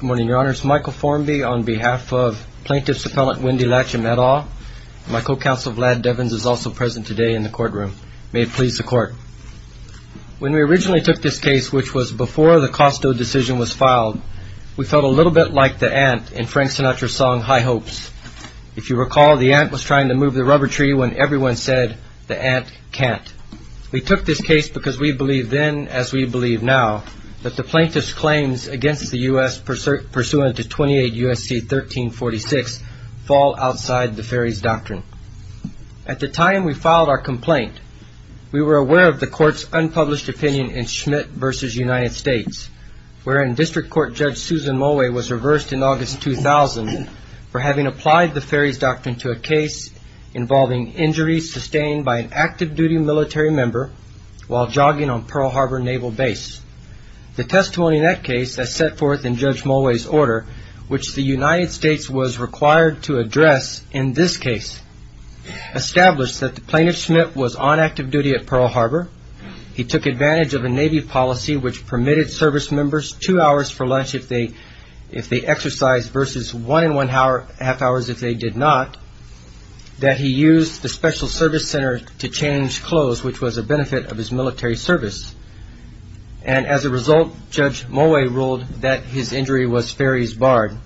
Good morning, Your Honors. Michael Formby on behalf of Plaintiff's Appellant Wendy Latchum et al., and my co-counsel Vlad Devins is also present today in the courtroom. May it please the Court. When we originally took this case, which was before the Costo decision was filed, we felt a little bit like the ant in Frank Sinatra's song, High Hopes. If you recall, the ant was trying to move the rubber tree when everyone said, the ant can't. We took this case because we believed then as we believe now that the Plaintiff's claims against the U.S. pursuant to 28 U.S.C. 1346 fall outside the Ferry's Doctrine. At the time we filed our complaint, we were aware of the Court's unpublished opinion in that Susan Mulway was reversed in August 2000 for having applied the Ferry's Doctrine to a case involving injuries sustained by an active-duty military member while jogging on Pearl Harbor Naval Base. The testimony in that case that set forth in Judge Mulway's order, which the United States was required to address in this case, established that the Plaintiff's Schmidt was on active duty at Pearl Harbor. He took advantage of a Navy policy which permitted service members two hours for lunch if they exercised versus one and one-half hours if they did not, that he used the Special Service Center to change clothes, which was a benefit of his military service. And as a result, Judge Mulway ruled that his injury was Ferry's Bard.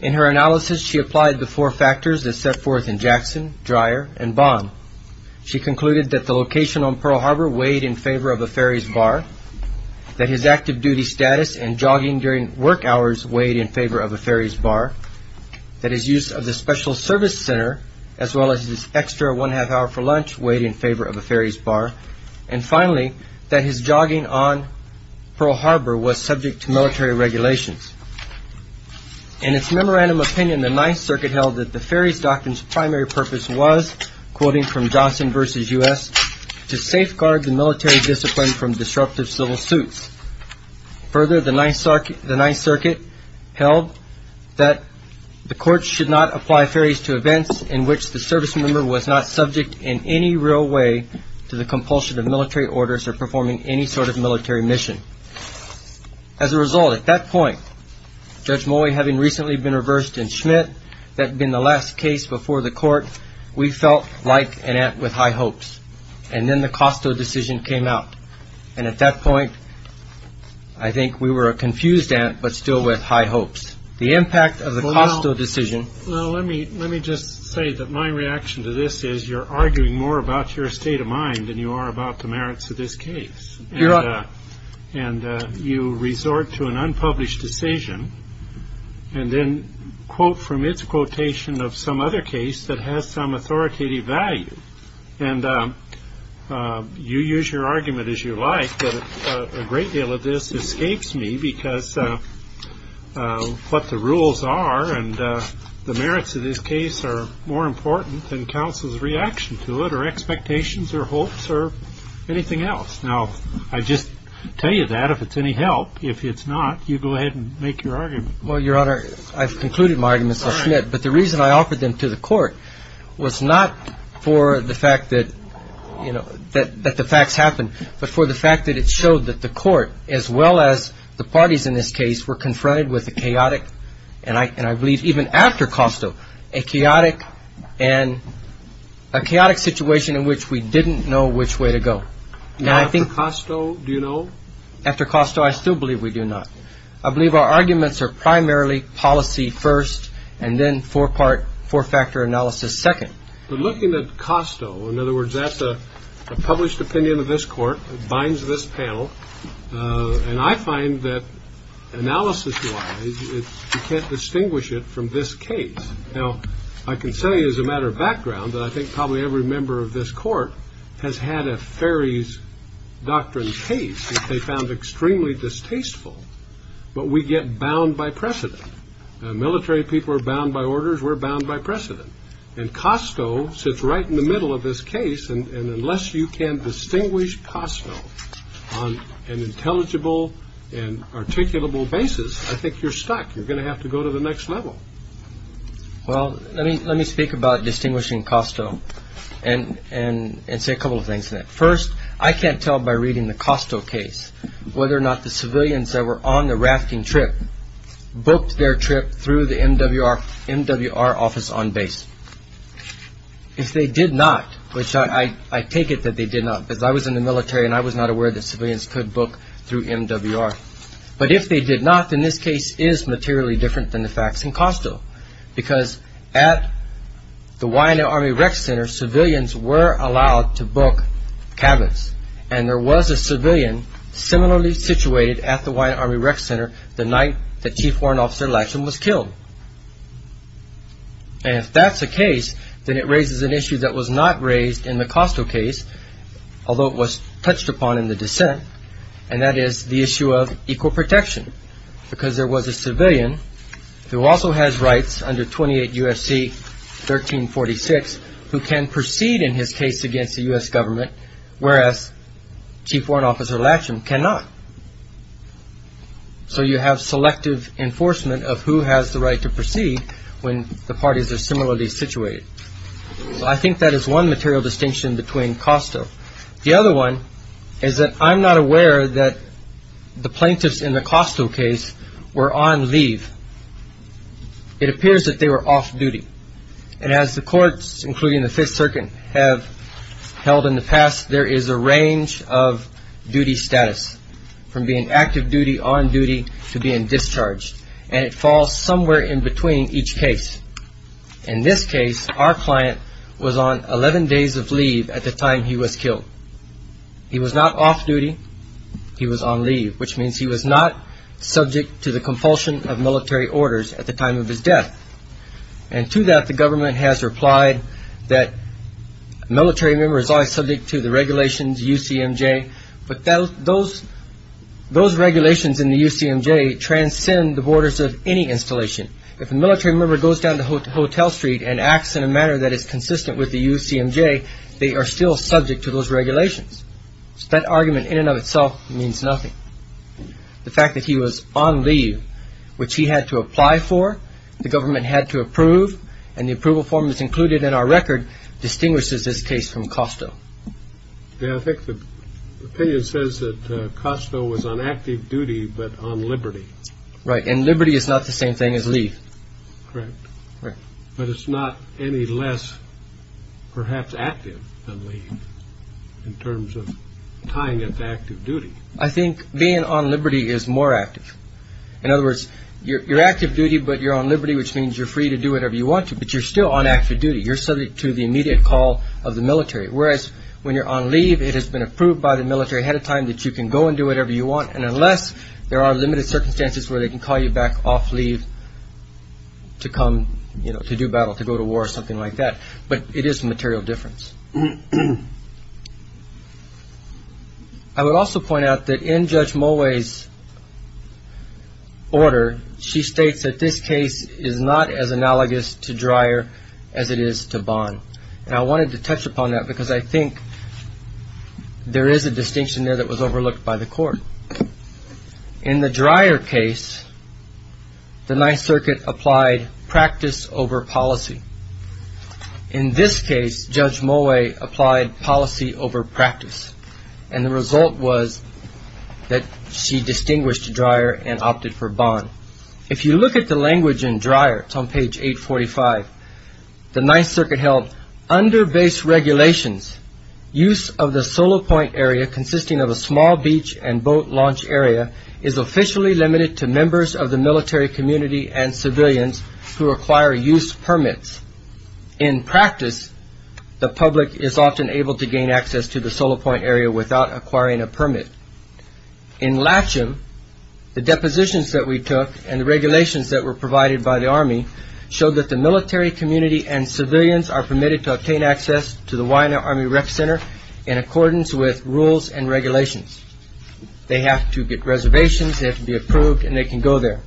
In her analysis, she applied the four factors that set forth in Jackson, Dreyer, and Bond. She concluded that the location on Pearl Harbor weighed in favor of a Ferry's Bard, that his active-duty status and jogging during work hours weighed in favor of a Ferry's Bard, that his use of the Special Service Center, as well as his extra one-half hour for lunch, weighed in favor of a Ferry's Bard, and finally, that his jogging on Pearl Harbor was subject to military regulations. In its memorandum opinion, the Ninth Circuit held that the Ferry's Doctrine's primary purpose was, quoting from Johnson versus U.S., to safeguard the military discipline from disruptive civil suits. Further, the Ninth Circuit held that the court should not apply Ferry's to events in which the service member was not subject in any real way to the compulsion of military orders or performing any sort of military mission. As a result, at that point, Judge Mulway having recently been reversed in Schmidt, that had been the last case before the court, we felt like an ant with high hopes. And then the Costo decision came out. And at that point, I think we were a confused ant, but still with high hopes. The impact of the Costo decision... Well, let me just say that my reaction to this is, you're arguing more about your state of mind than you are about the merits of this case. And you resort to an unpublished decision, and then quote from its quotation of some other case that has some authoritative value. And you use your argument as you like, but a great deal of this escapes me, because what the rules are and the merits of this case are more important than counsel's reaction to it or expectations or hopes or anything else. Now, I just tell you that, if it's any help. If it's not, you go ahead and make your argument. Well, Your Honor, I've concluded my arguments with Schmidt, but the reason I offered them to the court was not for the fact that, you know, that the facts happened, but for the fact that it showed that the court, as well as the parties in this case, were confronted with a chaotic, and I believe even after Costo, a chaotic situation in which we didn't know which way to go. Now, after Costo, do you know? After Costo, I still believe we do not. I believe our arguments are primarily policy first, and then four-part, four-factor analysis second. But looking at Costo, in other words, that's a published opinion of this Court. It binds this panel. And I find that, analysis-wise, you can't distinguish it from this case. Now, I can say as a matter of background that I think probably every member of this Court has had a Ferry's Doctrine case that they found extremely distasteful. But we get bound by precedent. Military people are bound by orders. We're bound by precedent. And Costo sits right in the middle of this case. And unless you can distinguish Costo on an intelligible and articulable basis, I think you're stuck. You're going to have to go to the next level. Well, let me speak about distinguishing Costo and say a couple of things in it. First, I can't tell by reading the Costo case whether or not the civilians that were on the rafting trip booked their trip through the MWR office on base. If they did not, which I take it that they did not, because I was in the military and I was not aware that civilians could book through MWR. But if they did not, then this case is materially different than the facts in Costo, because at the Waianae Army Rec Center, civilians were allowed to book cabins, and there was a civilian similarly situated at the Waianae Army Rec Center the night that Chief Warrant Officer Latcham was killed. And if that's the case, then it raises an issue that was not raised in the Costo case, although it was touched upon in the dissent, and that is the issue of equal protection, because there was a civilian who also has rights under 28 U.S.C. 1346 who can proceed in his case against the U.S. government, whereas Chief Warrant Officer Latcham cannot. So you have selective enforcement of who has the right to proceed when the parties are similarly situated. I think that is one material distinction between Costo. The other one is that I'm not aware that the plaintiffs in the Costo case were on leave. It appears that they were off-duty, and as the courts, including the Fifth Circuit, have held in the past, there is a range of duty status, from being active duty, on duty, to In this case, our client was on 11 days of leave at the time he was killed. He was not off-duty. He was on leave, which means he was not subject to the compulsion of military orders at the time of his death. And to that, the government has replied that a military member is always subject to the regulations of UCMJ, but those regulations in the UCMJ transcend the borders of any installation. If a military member goes down to Hotel Street and acts in a manner that is consistent with the UCMJ, they are still subject to those regulations. That argument, in and of itself, means nothing. The fact that he was on leave, which he had to apply for, the government had to approve, and the approval form is included in our record, distinguishes this case from Costo. Yeah, I think the opinion says that Costo was on active duty, but on liberty. Right, and liberty is not the same thing as leave. Correct. Right. But it's not any less, perhaps, active than leave, in terms of tying it to active duty. I think being on liberty is more active. In other words, you're active duty, but you're on liberty, which means you're free to do whatever you want to, but you're still on active duty. You're subject to the immediate call of the military, whereas when you're on leave, it has been approved by the military ahead of time that you can go and do whatever you want, unless there are limited circumstances where they can call you back off leave to come to do battle, to go to war, or something like that, but it is a material difference. I would also point out that in Judge Mulway's order, she states that this case is not as analogous to Dreyer as it is to Bond, and I wanted to touch upon that because I think there is a distinction there that was overlooked by the court. In the Dreyer case, the Ninth Circuit applied practice over policy. In this case, Judge Mulway applied policy over practice, and the result was that she distinguished Dreyer and opted for Bond. If you look at the language in Dreyer, it's on page 845, the Ninth Circuit held, under base regulations, use of the solo point area consisting of a small beach and boat launch area is officially limited to members of the military community and civilians who acquire use permits. In practice, the public is often able to gain access to the solo point area without acquiring a permit. In Latcham, the depositions that we took and the regulations that were provided by the Army Rec Center in accordance with rules and regulations. They have to get reservations, they have to be approved, and they can go there.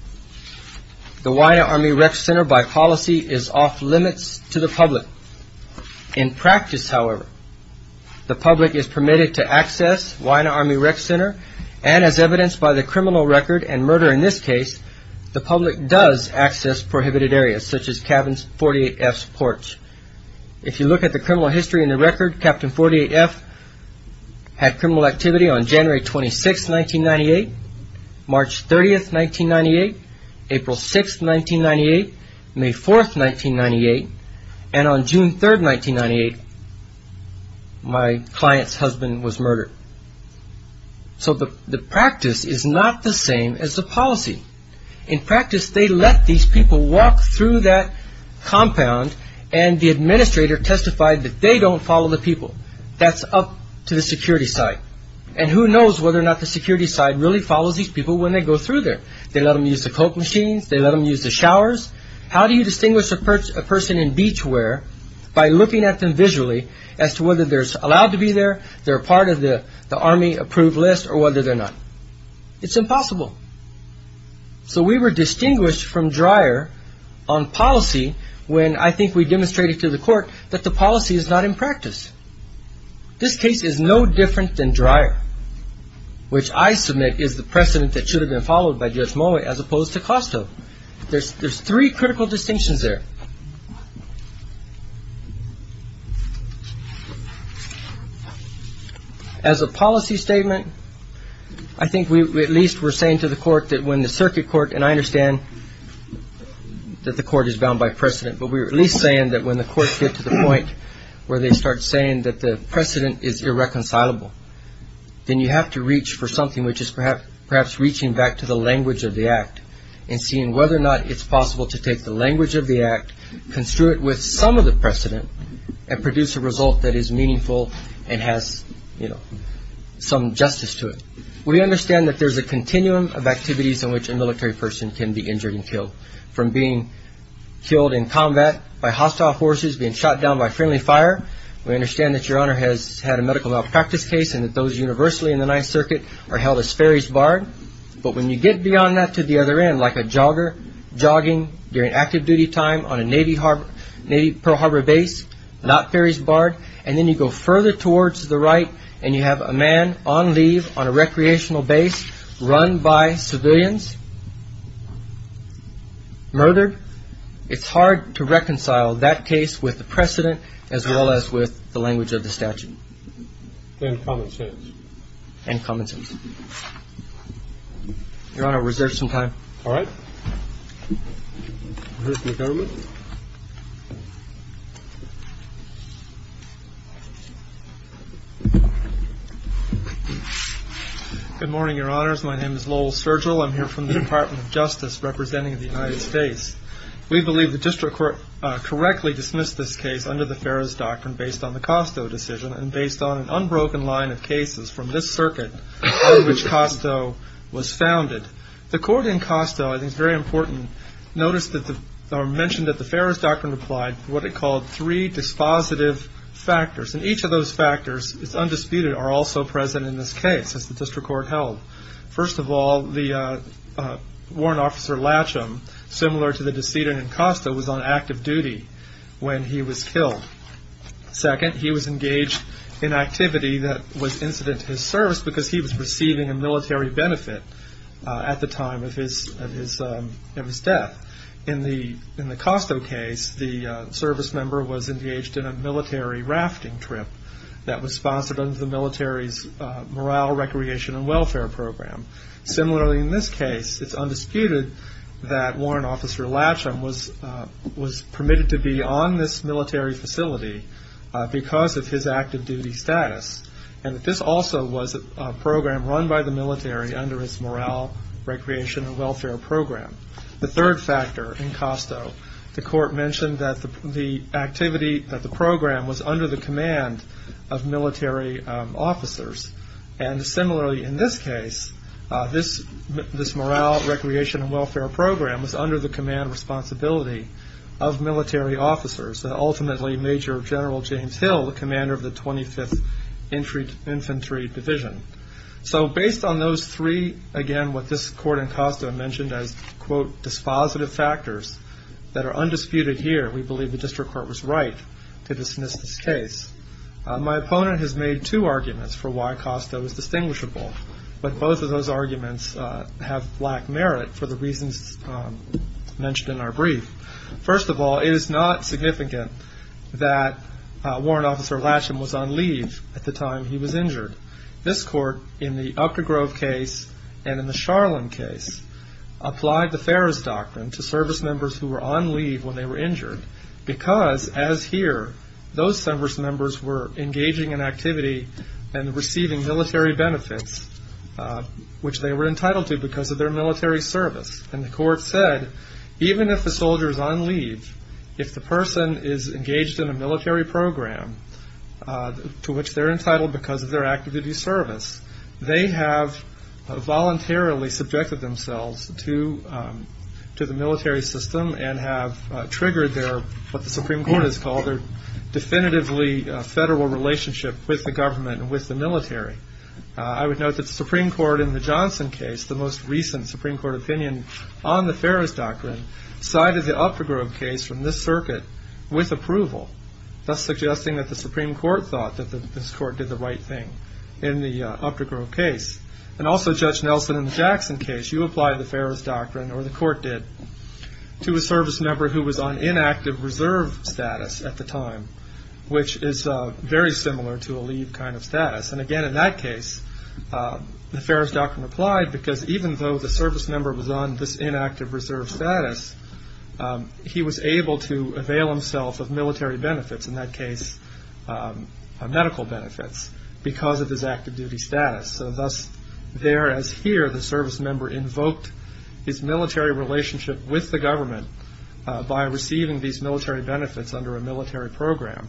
The Wina Army Rec Center, by policy, is off limits to the public. In practice, however, the public is permitted to access Wina Army Rec Center, and as evidenced by the criminal record and murder in this case, the public does access prohibited areas, such as Cabin 48F's porch. If you look at the criminal history in the record, Cabin 48F had criminal activity on January 26, 1998, March 30, 1998, April 6, 1998, May 4, 1998, and on June 3, 1998, my client's husband was murdered. So the practice is not the same as the policy. In practice, they let these people walk through that compound, and the administrator testified that they don't follow the people. That's up to the security side. And who knows whether or not the security side really follows these people when they go through there. They let them use the coke machines, they let them use the showers. How do you distinguish a person in beach wear by looking at them visually as to whether they're allowed to be there, they're part of the Army approved list, or whether they're not? It's impossible. So we were distinguished from Dreyer on policy when I think we demonstrated to the court that the policy is not in practice. This case is no different than Dreyer, which I submit is the precedent that should have been followed by Judge Mowat as opposed to Costo. There's three critical distinctions there. As a policy statement, I think we at least were saying to the court that when the circuit court, and I understand that the court is bound by precedent, but we were at least saying that when the courts get to the point where they start saying that the precedent is irreconcilable, then you have to reach for something which is perhaps reaching back to the language of the act, construe it with some of the precedent, and produce a result that is meaningful and has some justice to it. We understand that there's a continuum of activities in which a military person can be injured and killed, from being killed in combat by hostile forces, being shot down by friendly fire. We understand that your honor has had a medical malpractice case and that those universally in the Ninth Circuit are held as ferries barred, but when you get beyond that to the other end, like a jogger jogging during active duty time on a Navy Pearl Harbor base, not ferries barred, and then you go further towards the right and you have a man on leave on a recreational base, run by civilians, murdered, it's hard to reconcile that case with the precedent as well as with the language of the statute. And common sense. And common sense. Your honor, we reserve some time. All right. Good morning, your honors. My name is Lowell Sergel. I'm here from the Department of Justice, representing the United States. We believe the district court correctly dismissed this case under the Ferris Doctrine based on the Costo decision and based on an unbroken line of cases from this circuit in which Costo was founded. The court in Costo, I think it's very important, noticed or mentioned that the Ferris Doctrine applied what it called three dispositive factors, and each of those factors, it's undisputed, are also present in this case, as the district court held. First of all, the warrant officer, Latcham, similar to the decedent in Costo, was on active duty when he was killed. Second, he was engaged in activity that was incident to his service because he was receiving a military benefit at the time of his death. In the Costo case, the service member was engaged in a military rafting trip that was sponsored under the military's Morale, Recreation, and Welfare program. Similarly, in this case, it's undisputed that warrant officer Latcham was permitted to be on this military facility because of his active duty status, and this also was a program run by the military under its Morale, Recreation, and Welfare program. The third factor in Costo, the court mentioned that the activity, that the program was under the command of military officers, and similarly in this case, this Morale, Recreation, and Welfare program was under the command of military officers, ultimately Major General James Hill, the commander of the 25th Infantry Division. So based on those three, again, what this court in Costo mentioned as, quote, dispositive factors that are undisputed here, we believe the district court was right to dismiss this case. My opponent has made two arguments for why Costo is distinguishable, but both of those arguments have lack merit for the reasons mentioned in our brief. First of all, it is not significant that warrant officer Latcham was on leave at the time he was injured. This court, in the Upper Grove case and in the Charlin case, applied the Ferris Doctrine to service members who were on leave when they were injured because, as here, those service members were engaging in activity and receiving military benefits, which they were entitled to because of their military service. And the court said, even if the soldier is on leave, if the person is engaged in a military program to which they're entitled because of their activity service, they have voluntarily subjected themselves to the military system and have triggered their, what the Supreme Court has called, their definitively federal relationship with the government and with the military. I would note that the Supreme Court in the Johnson case, the most recent Supreme Court opinion on the Ferris Doctrine, cited the Upper Grove case from this circuit with approval, thus suggesting that the Supreme Court thought that this court did the right thing in the Upper Grove case. And also, Judge Nelson, in the Jackson case, you applied the Ferris Doctrine, or the court did, to a service member who was on inactive reserve status at the time, which is very similar to a leave kind of status. And again, in that case, the Ferris Doctrine applied because even though the service member was on this inactive reserve status, he was able to avail himself of military benefits, in that case medical benefits, because of his active duty status. So thus, there as here, the service member invoked his military relationship with the government by receiving these military benefits under a military program,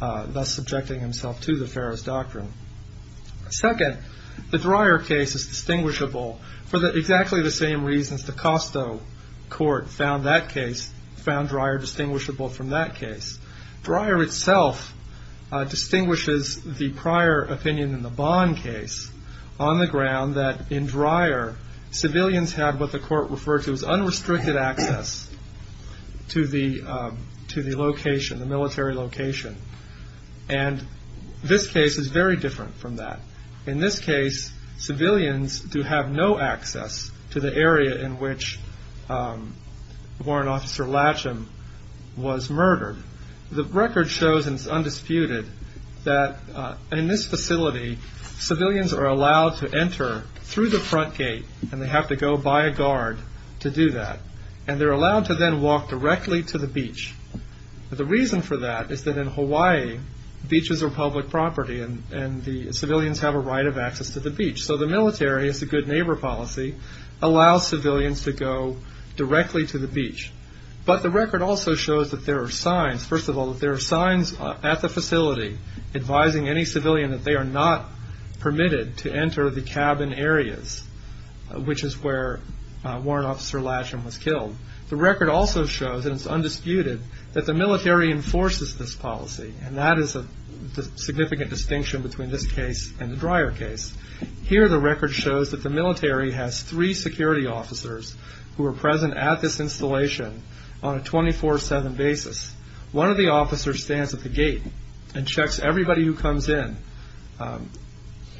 thus subjecting himself to the Ferris Doctrine. Second, the Dreyer case is distinguishable for exactly the same reasons the Costo Court found that case, found Dreyer distinguishable from that case. Dreyer itself distinguishes the prior opinion in the Bond case on the ground that in Dreyer civilians had what the court referred to as unrestricted access to the location, the military location. And this case is very different from that. In this case, civilians do have no access to the area in which Warrant Officer Latcham was murdered. The record shows, and it's undisputed, that in this facility, civilians are allowed to enter through the front gate, and they have to go by a guard to do that. And they're allowed to then walk directly to the beach. The reason for that is that in Hawaii, beaches are public property, and the civilians have a right of access to the beach. So the military, it's a good neighbor policy, allows civilians to go directly to the beach. But the record also shows that there are signs, first of all, that there are signs at the facility advising any civilian that they are not permitted to enter the cabin areas, which is where Warrant Officer Latcham was killed. The record also shows, and it's undisputed, that the military enforces this policy, and that is a significant distinction between this case and the Dreyer case. Here the record shows that the military has three security officers who are present at this installation on a 24-7 basis. One of the officers stands at the gate and checks everybody who comes in.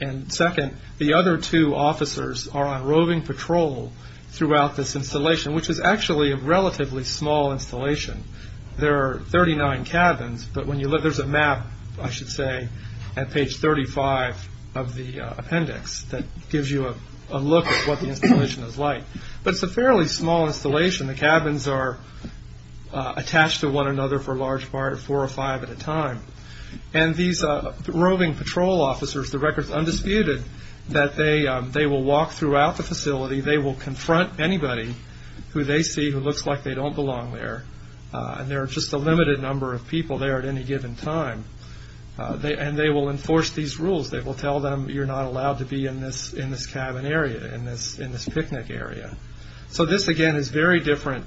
And second, the other two officers are on roving patrol throughout this installation, which is actually a relatively small installation. There are 39 cabins, but there's a map, I should say, at page 35 of the appendix that gives you a look at what the installation is like. But it's a fairly small installation. The cabins are attached to one another for a large part, four or five at a time. And these roving patrol officers, the record's undisputed that they will walk throughout the facility, they will confront anybody who they see who looks like they don't belong there. And there are just a limited number of people there at any given time. And they will enforce these rules. They will tell them, you're not allowed to be in this cabin area, in this picnic area. So this, again, is very different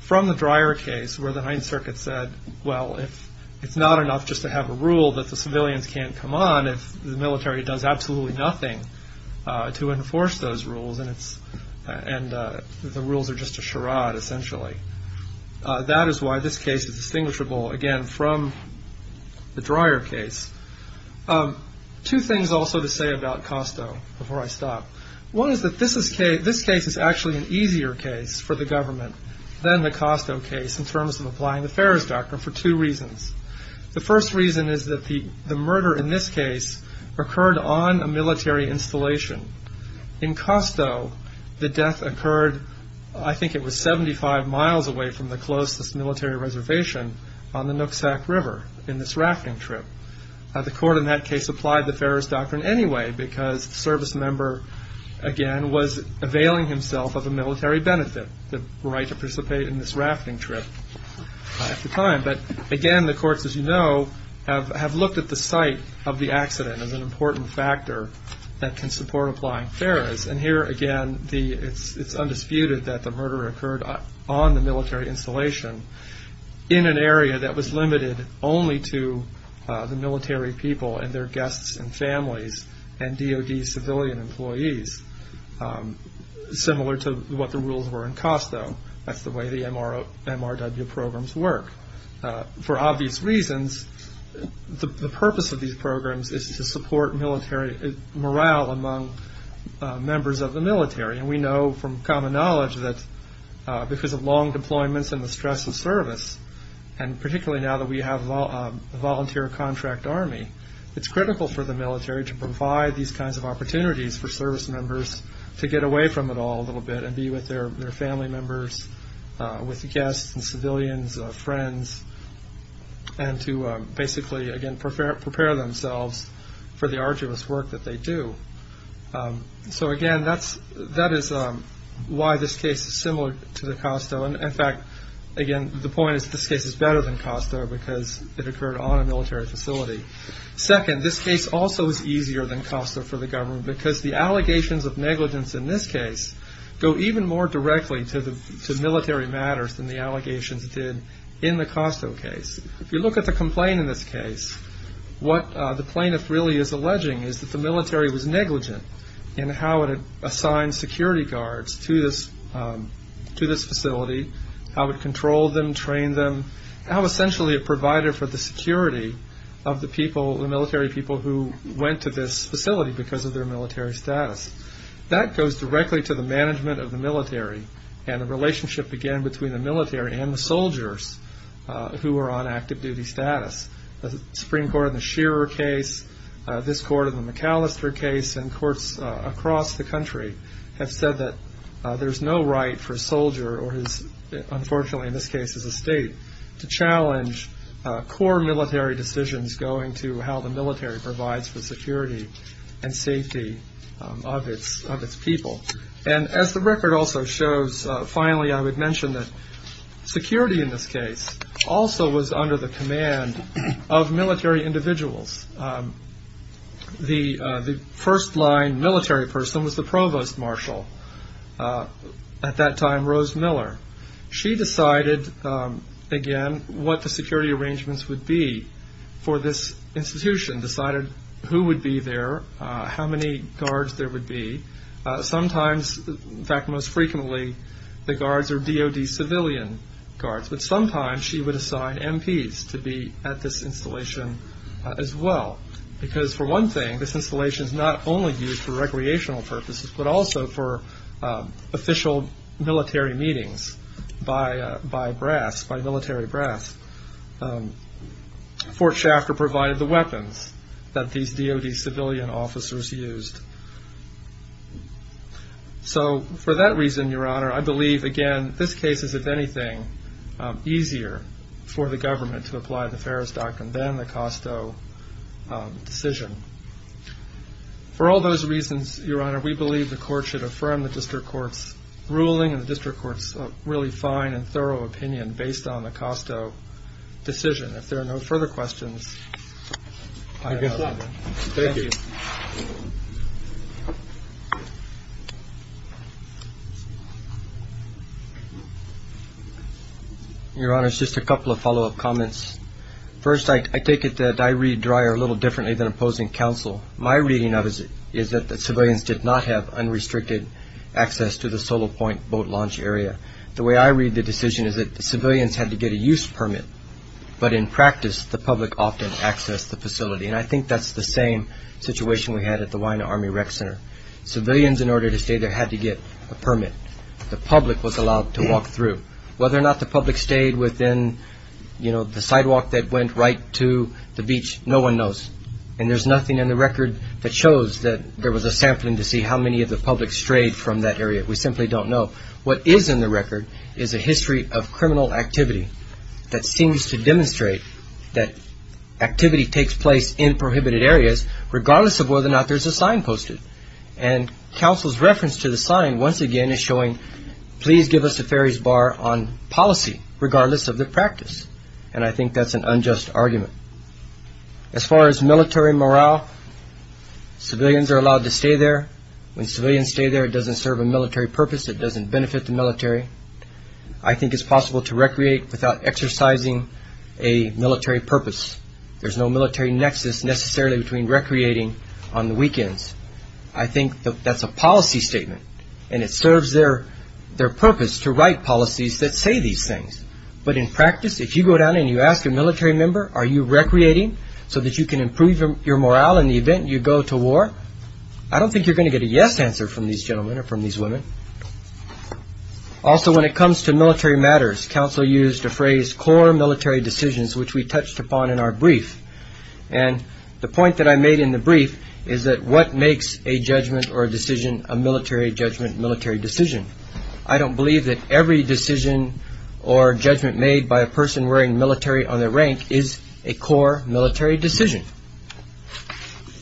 from the Dreyer case, where the Ninth Circuit said, well, it's not enough just to have a rule that the civilians can't come on if the military does absolutely nothing to enforce those rules. And the rules are just a charade, essentially. That is why this case is distinguishable, again, from the Dreyer case. Two things also to say about Costo, before I stop. One is that this case is actually an easier case for the government than the Costo case in terms of applying the Ferrer's Doctrine for two reasons. The first reason is that the murder in this case occurred on a military installation. In Costo, the death occurred, I think it was 75 miles away from the closest military reservation on the Nooksack River in this rafting trip. The court in that case applied the Ferrer's Doctrine anyway, because the service member, again, was availing himself of a military benefit, the right to participate in this rafting trip at the time. But again, the courts, as you know, have looked at the site of the accident as an important factor that can support applying Ferrer's. And here, again, it's undisputed that the murder occurred on the military installation in an area that was limited only to the military people and their guests and families and DOD civilian employees, similar to what the rules were in Costo. That's the way the MRW programs work. For obvious reasons, the purpose of these programs is to support morale among members of the military. We know from common knowledge that because of long deployments and the stress of service, and particularly now that we have a volunteer contract army, it's critical for the military to provide these kinds of opportunities for service members to get away from it all a few years with guests and civilians, friends, and to basically, again, prepare themselves for the arduous work that they do. So again, that is why this case is similar to the Costo, and in fact, again, the point is this case is better than Costo because it occurred on a military facility. Second, this case also is easier than Costo for the government because the allegations of negligence in this case go even more directly to military matters than the allegations did in the Costo case. If you look at the complaint in this case, what the plaintiff really is alleging is that the military was negligent in how it assigned security guards to this facility, how it controlled them, trained them, how essentially it provided for the security of the people, the military of this facility because of their military status. That goes directly to the management of the military and the relationship, again, between the military and the soldiers who are on active duty status. The Supreme Court in the Shearer case, this court in the McAllister case, and courts across the country have said that there's no right for a soldier or his, unfortunately in this case, his estate to challenge core military decisions going to how the military provides for security and safety of its people. As the record also shows, finally I would mention that security in this case also was under the command of military individuals. The first line military person was the Provost Marshal, at that time Rose Miller. She decided, again, what the security arrangements would be for this institution, decided who would be there, how many guards there would be. Sometimes, in fact most frequently, the guards are DOD civilian guards, but sometimes she would assign MPs to be at this installation as well because for one thing, this installation is not only used for recreational purposes, but also for official military meetings by brass, by military brass. Fort Shafter provided the weapons that these DOD civilian officers used. So for that reason, Your Honor, I believe, again, this case is, if anything, easier for the government to apply the Farris Doctrine than the Costo decision. For all those reasons, Your Honor, we believe the court should affirm the district court's ruling and the district court's really fine and thorough opinion based on the Costo decision. If there are no further questions, I have no further. Thank you. Your Honor, just a couple of follow-up comments. First, I take it that I read Dreyer a little differently than opposing counsel. My reading of it is that the civilians did not have unrestricted access to the solo point boat launch area. The way I read the decision is that the civilians had to get a use permit, but in practice, the public often accessed the facility. And I think that's the same situation we had at the Wai'anae Army Rec Center. Civilians in order to stay there had to get a permit. The public was allowed to walk through. Whether or not the public stayed within the sidewalk that went right to the beach, no one knows. And there's nothing in the record that shows that there was a sampling to see how many of the public strayed from that area. We simply don't know. What is in the record is a history of criminal activity that seems to demonstrate that activity takes place in prohibited areas, regardless of whether or not there's a sign posted. And counsel's reference to the sign, once again, is showing, please give us a ferry's bar on policy, regardless of the practice. And I think that's an unjust argument. As far as military morale, civilians are allowed to stay there. When civilians stay there, it doesn't serve a military purpose. It doesn't benefit the military. I think it's possible to recreate without exercising a military purpose. There's no military nexus, necessarily, between recreating on the weekends. I think that's a policy statement, and it serves their purpose to write policies that say these things. But in practice, if you go down and you ask a military member, are you recreating so that you can improve your morale in the event you go to war? I don't think you're going to get a yes answer from these gentlemen or from these women. Also, when it comes to military matters, counsel used a phrase, core military decisions, which we touched upon in our brief. And the point that I made in the brief is that what makes a judgment or a decision a military judgment, military decision? I don't believe that every decision or judgment made by a person wearing military on their rank is a core military decision.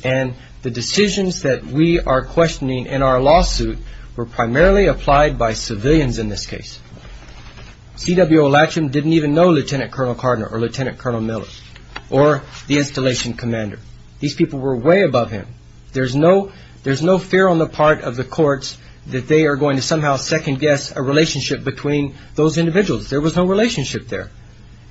And the decisions that we are questioning in our lawsuit were primarily applied by civilians in this case. C.W. O'Latcham didn't even know Lieutenant Colonel Cardinal or Lieutenant Colonel Miller or the installation commander. These people were way above him. There's no fear on the part of the courts that they are going to somehow second guess a relationship between those individuals. There was no relationship there.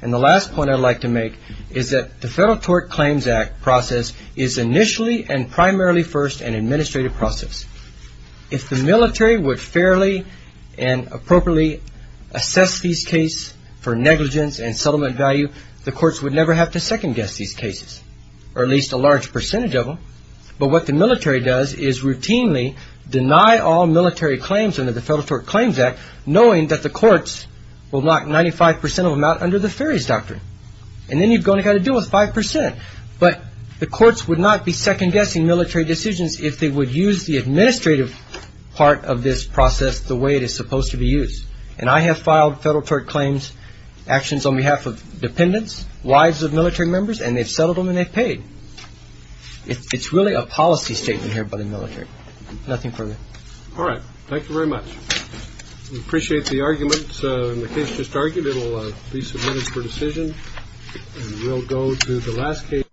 And the last point I'd like to make is that the Federal Tort Claims Act process is initially and primarily first an administrative process. If the military would fairly and appropriately assess these cases for negligence and settlement value, the courts would never have to second guess these cases, or at least a large percentage of them. But what the military does is routinely deny all military claims under the Federal Tort Claims Act, knowing that the courts will knock 95 percent of them out under the Ferries Doctrine. And then you've got to deal with 5 percent. But the courts would not be second-guessing military decisions if they would use the administrative part of this process the way it is supposed to be used. And I have filed Federal Tort Claims actions on behalf of dependents, wives of military members, and they've settled them and they've paid. It's really a policy statement here by the military. Nothing further. All right. Thank you very much. We appreciate the arguments. And the case just argued. It will be submitted for decision. And we'll go to the last case. Thank you.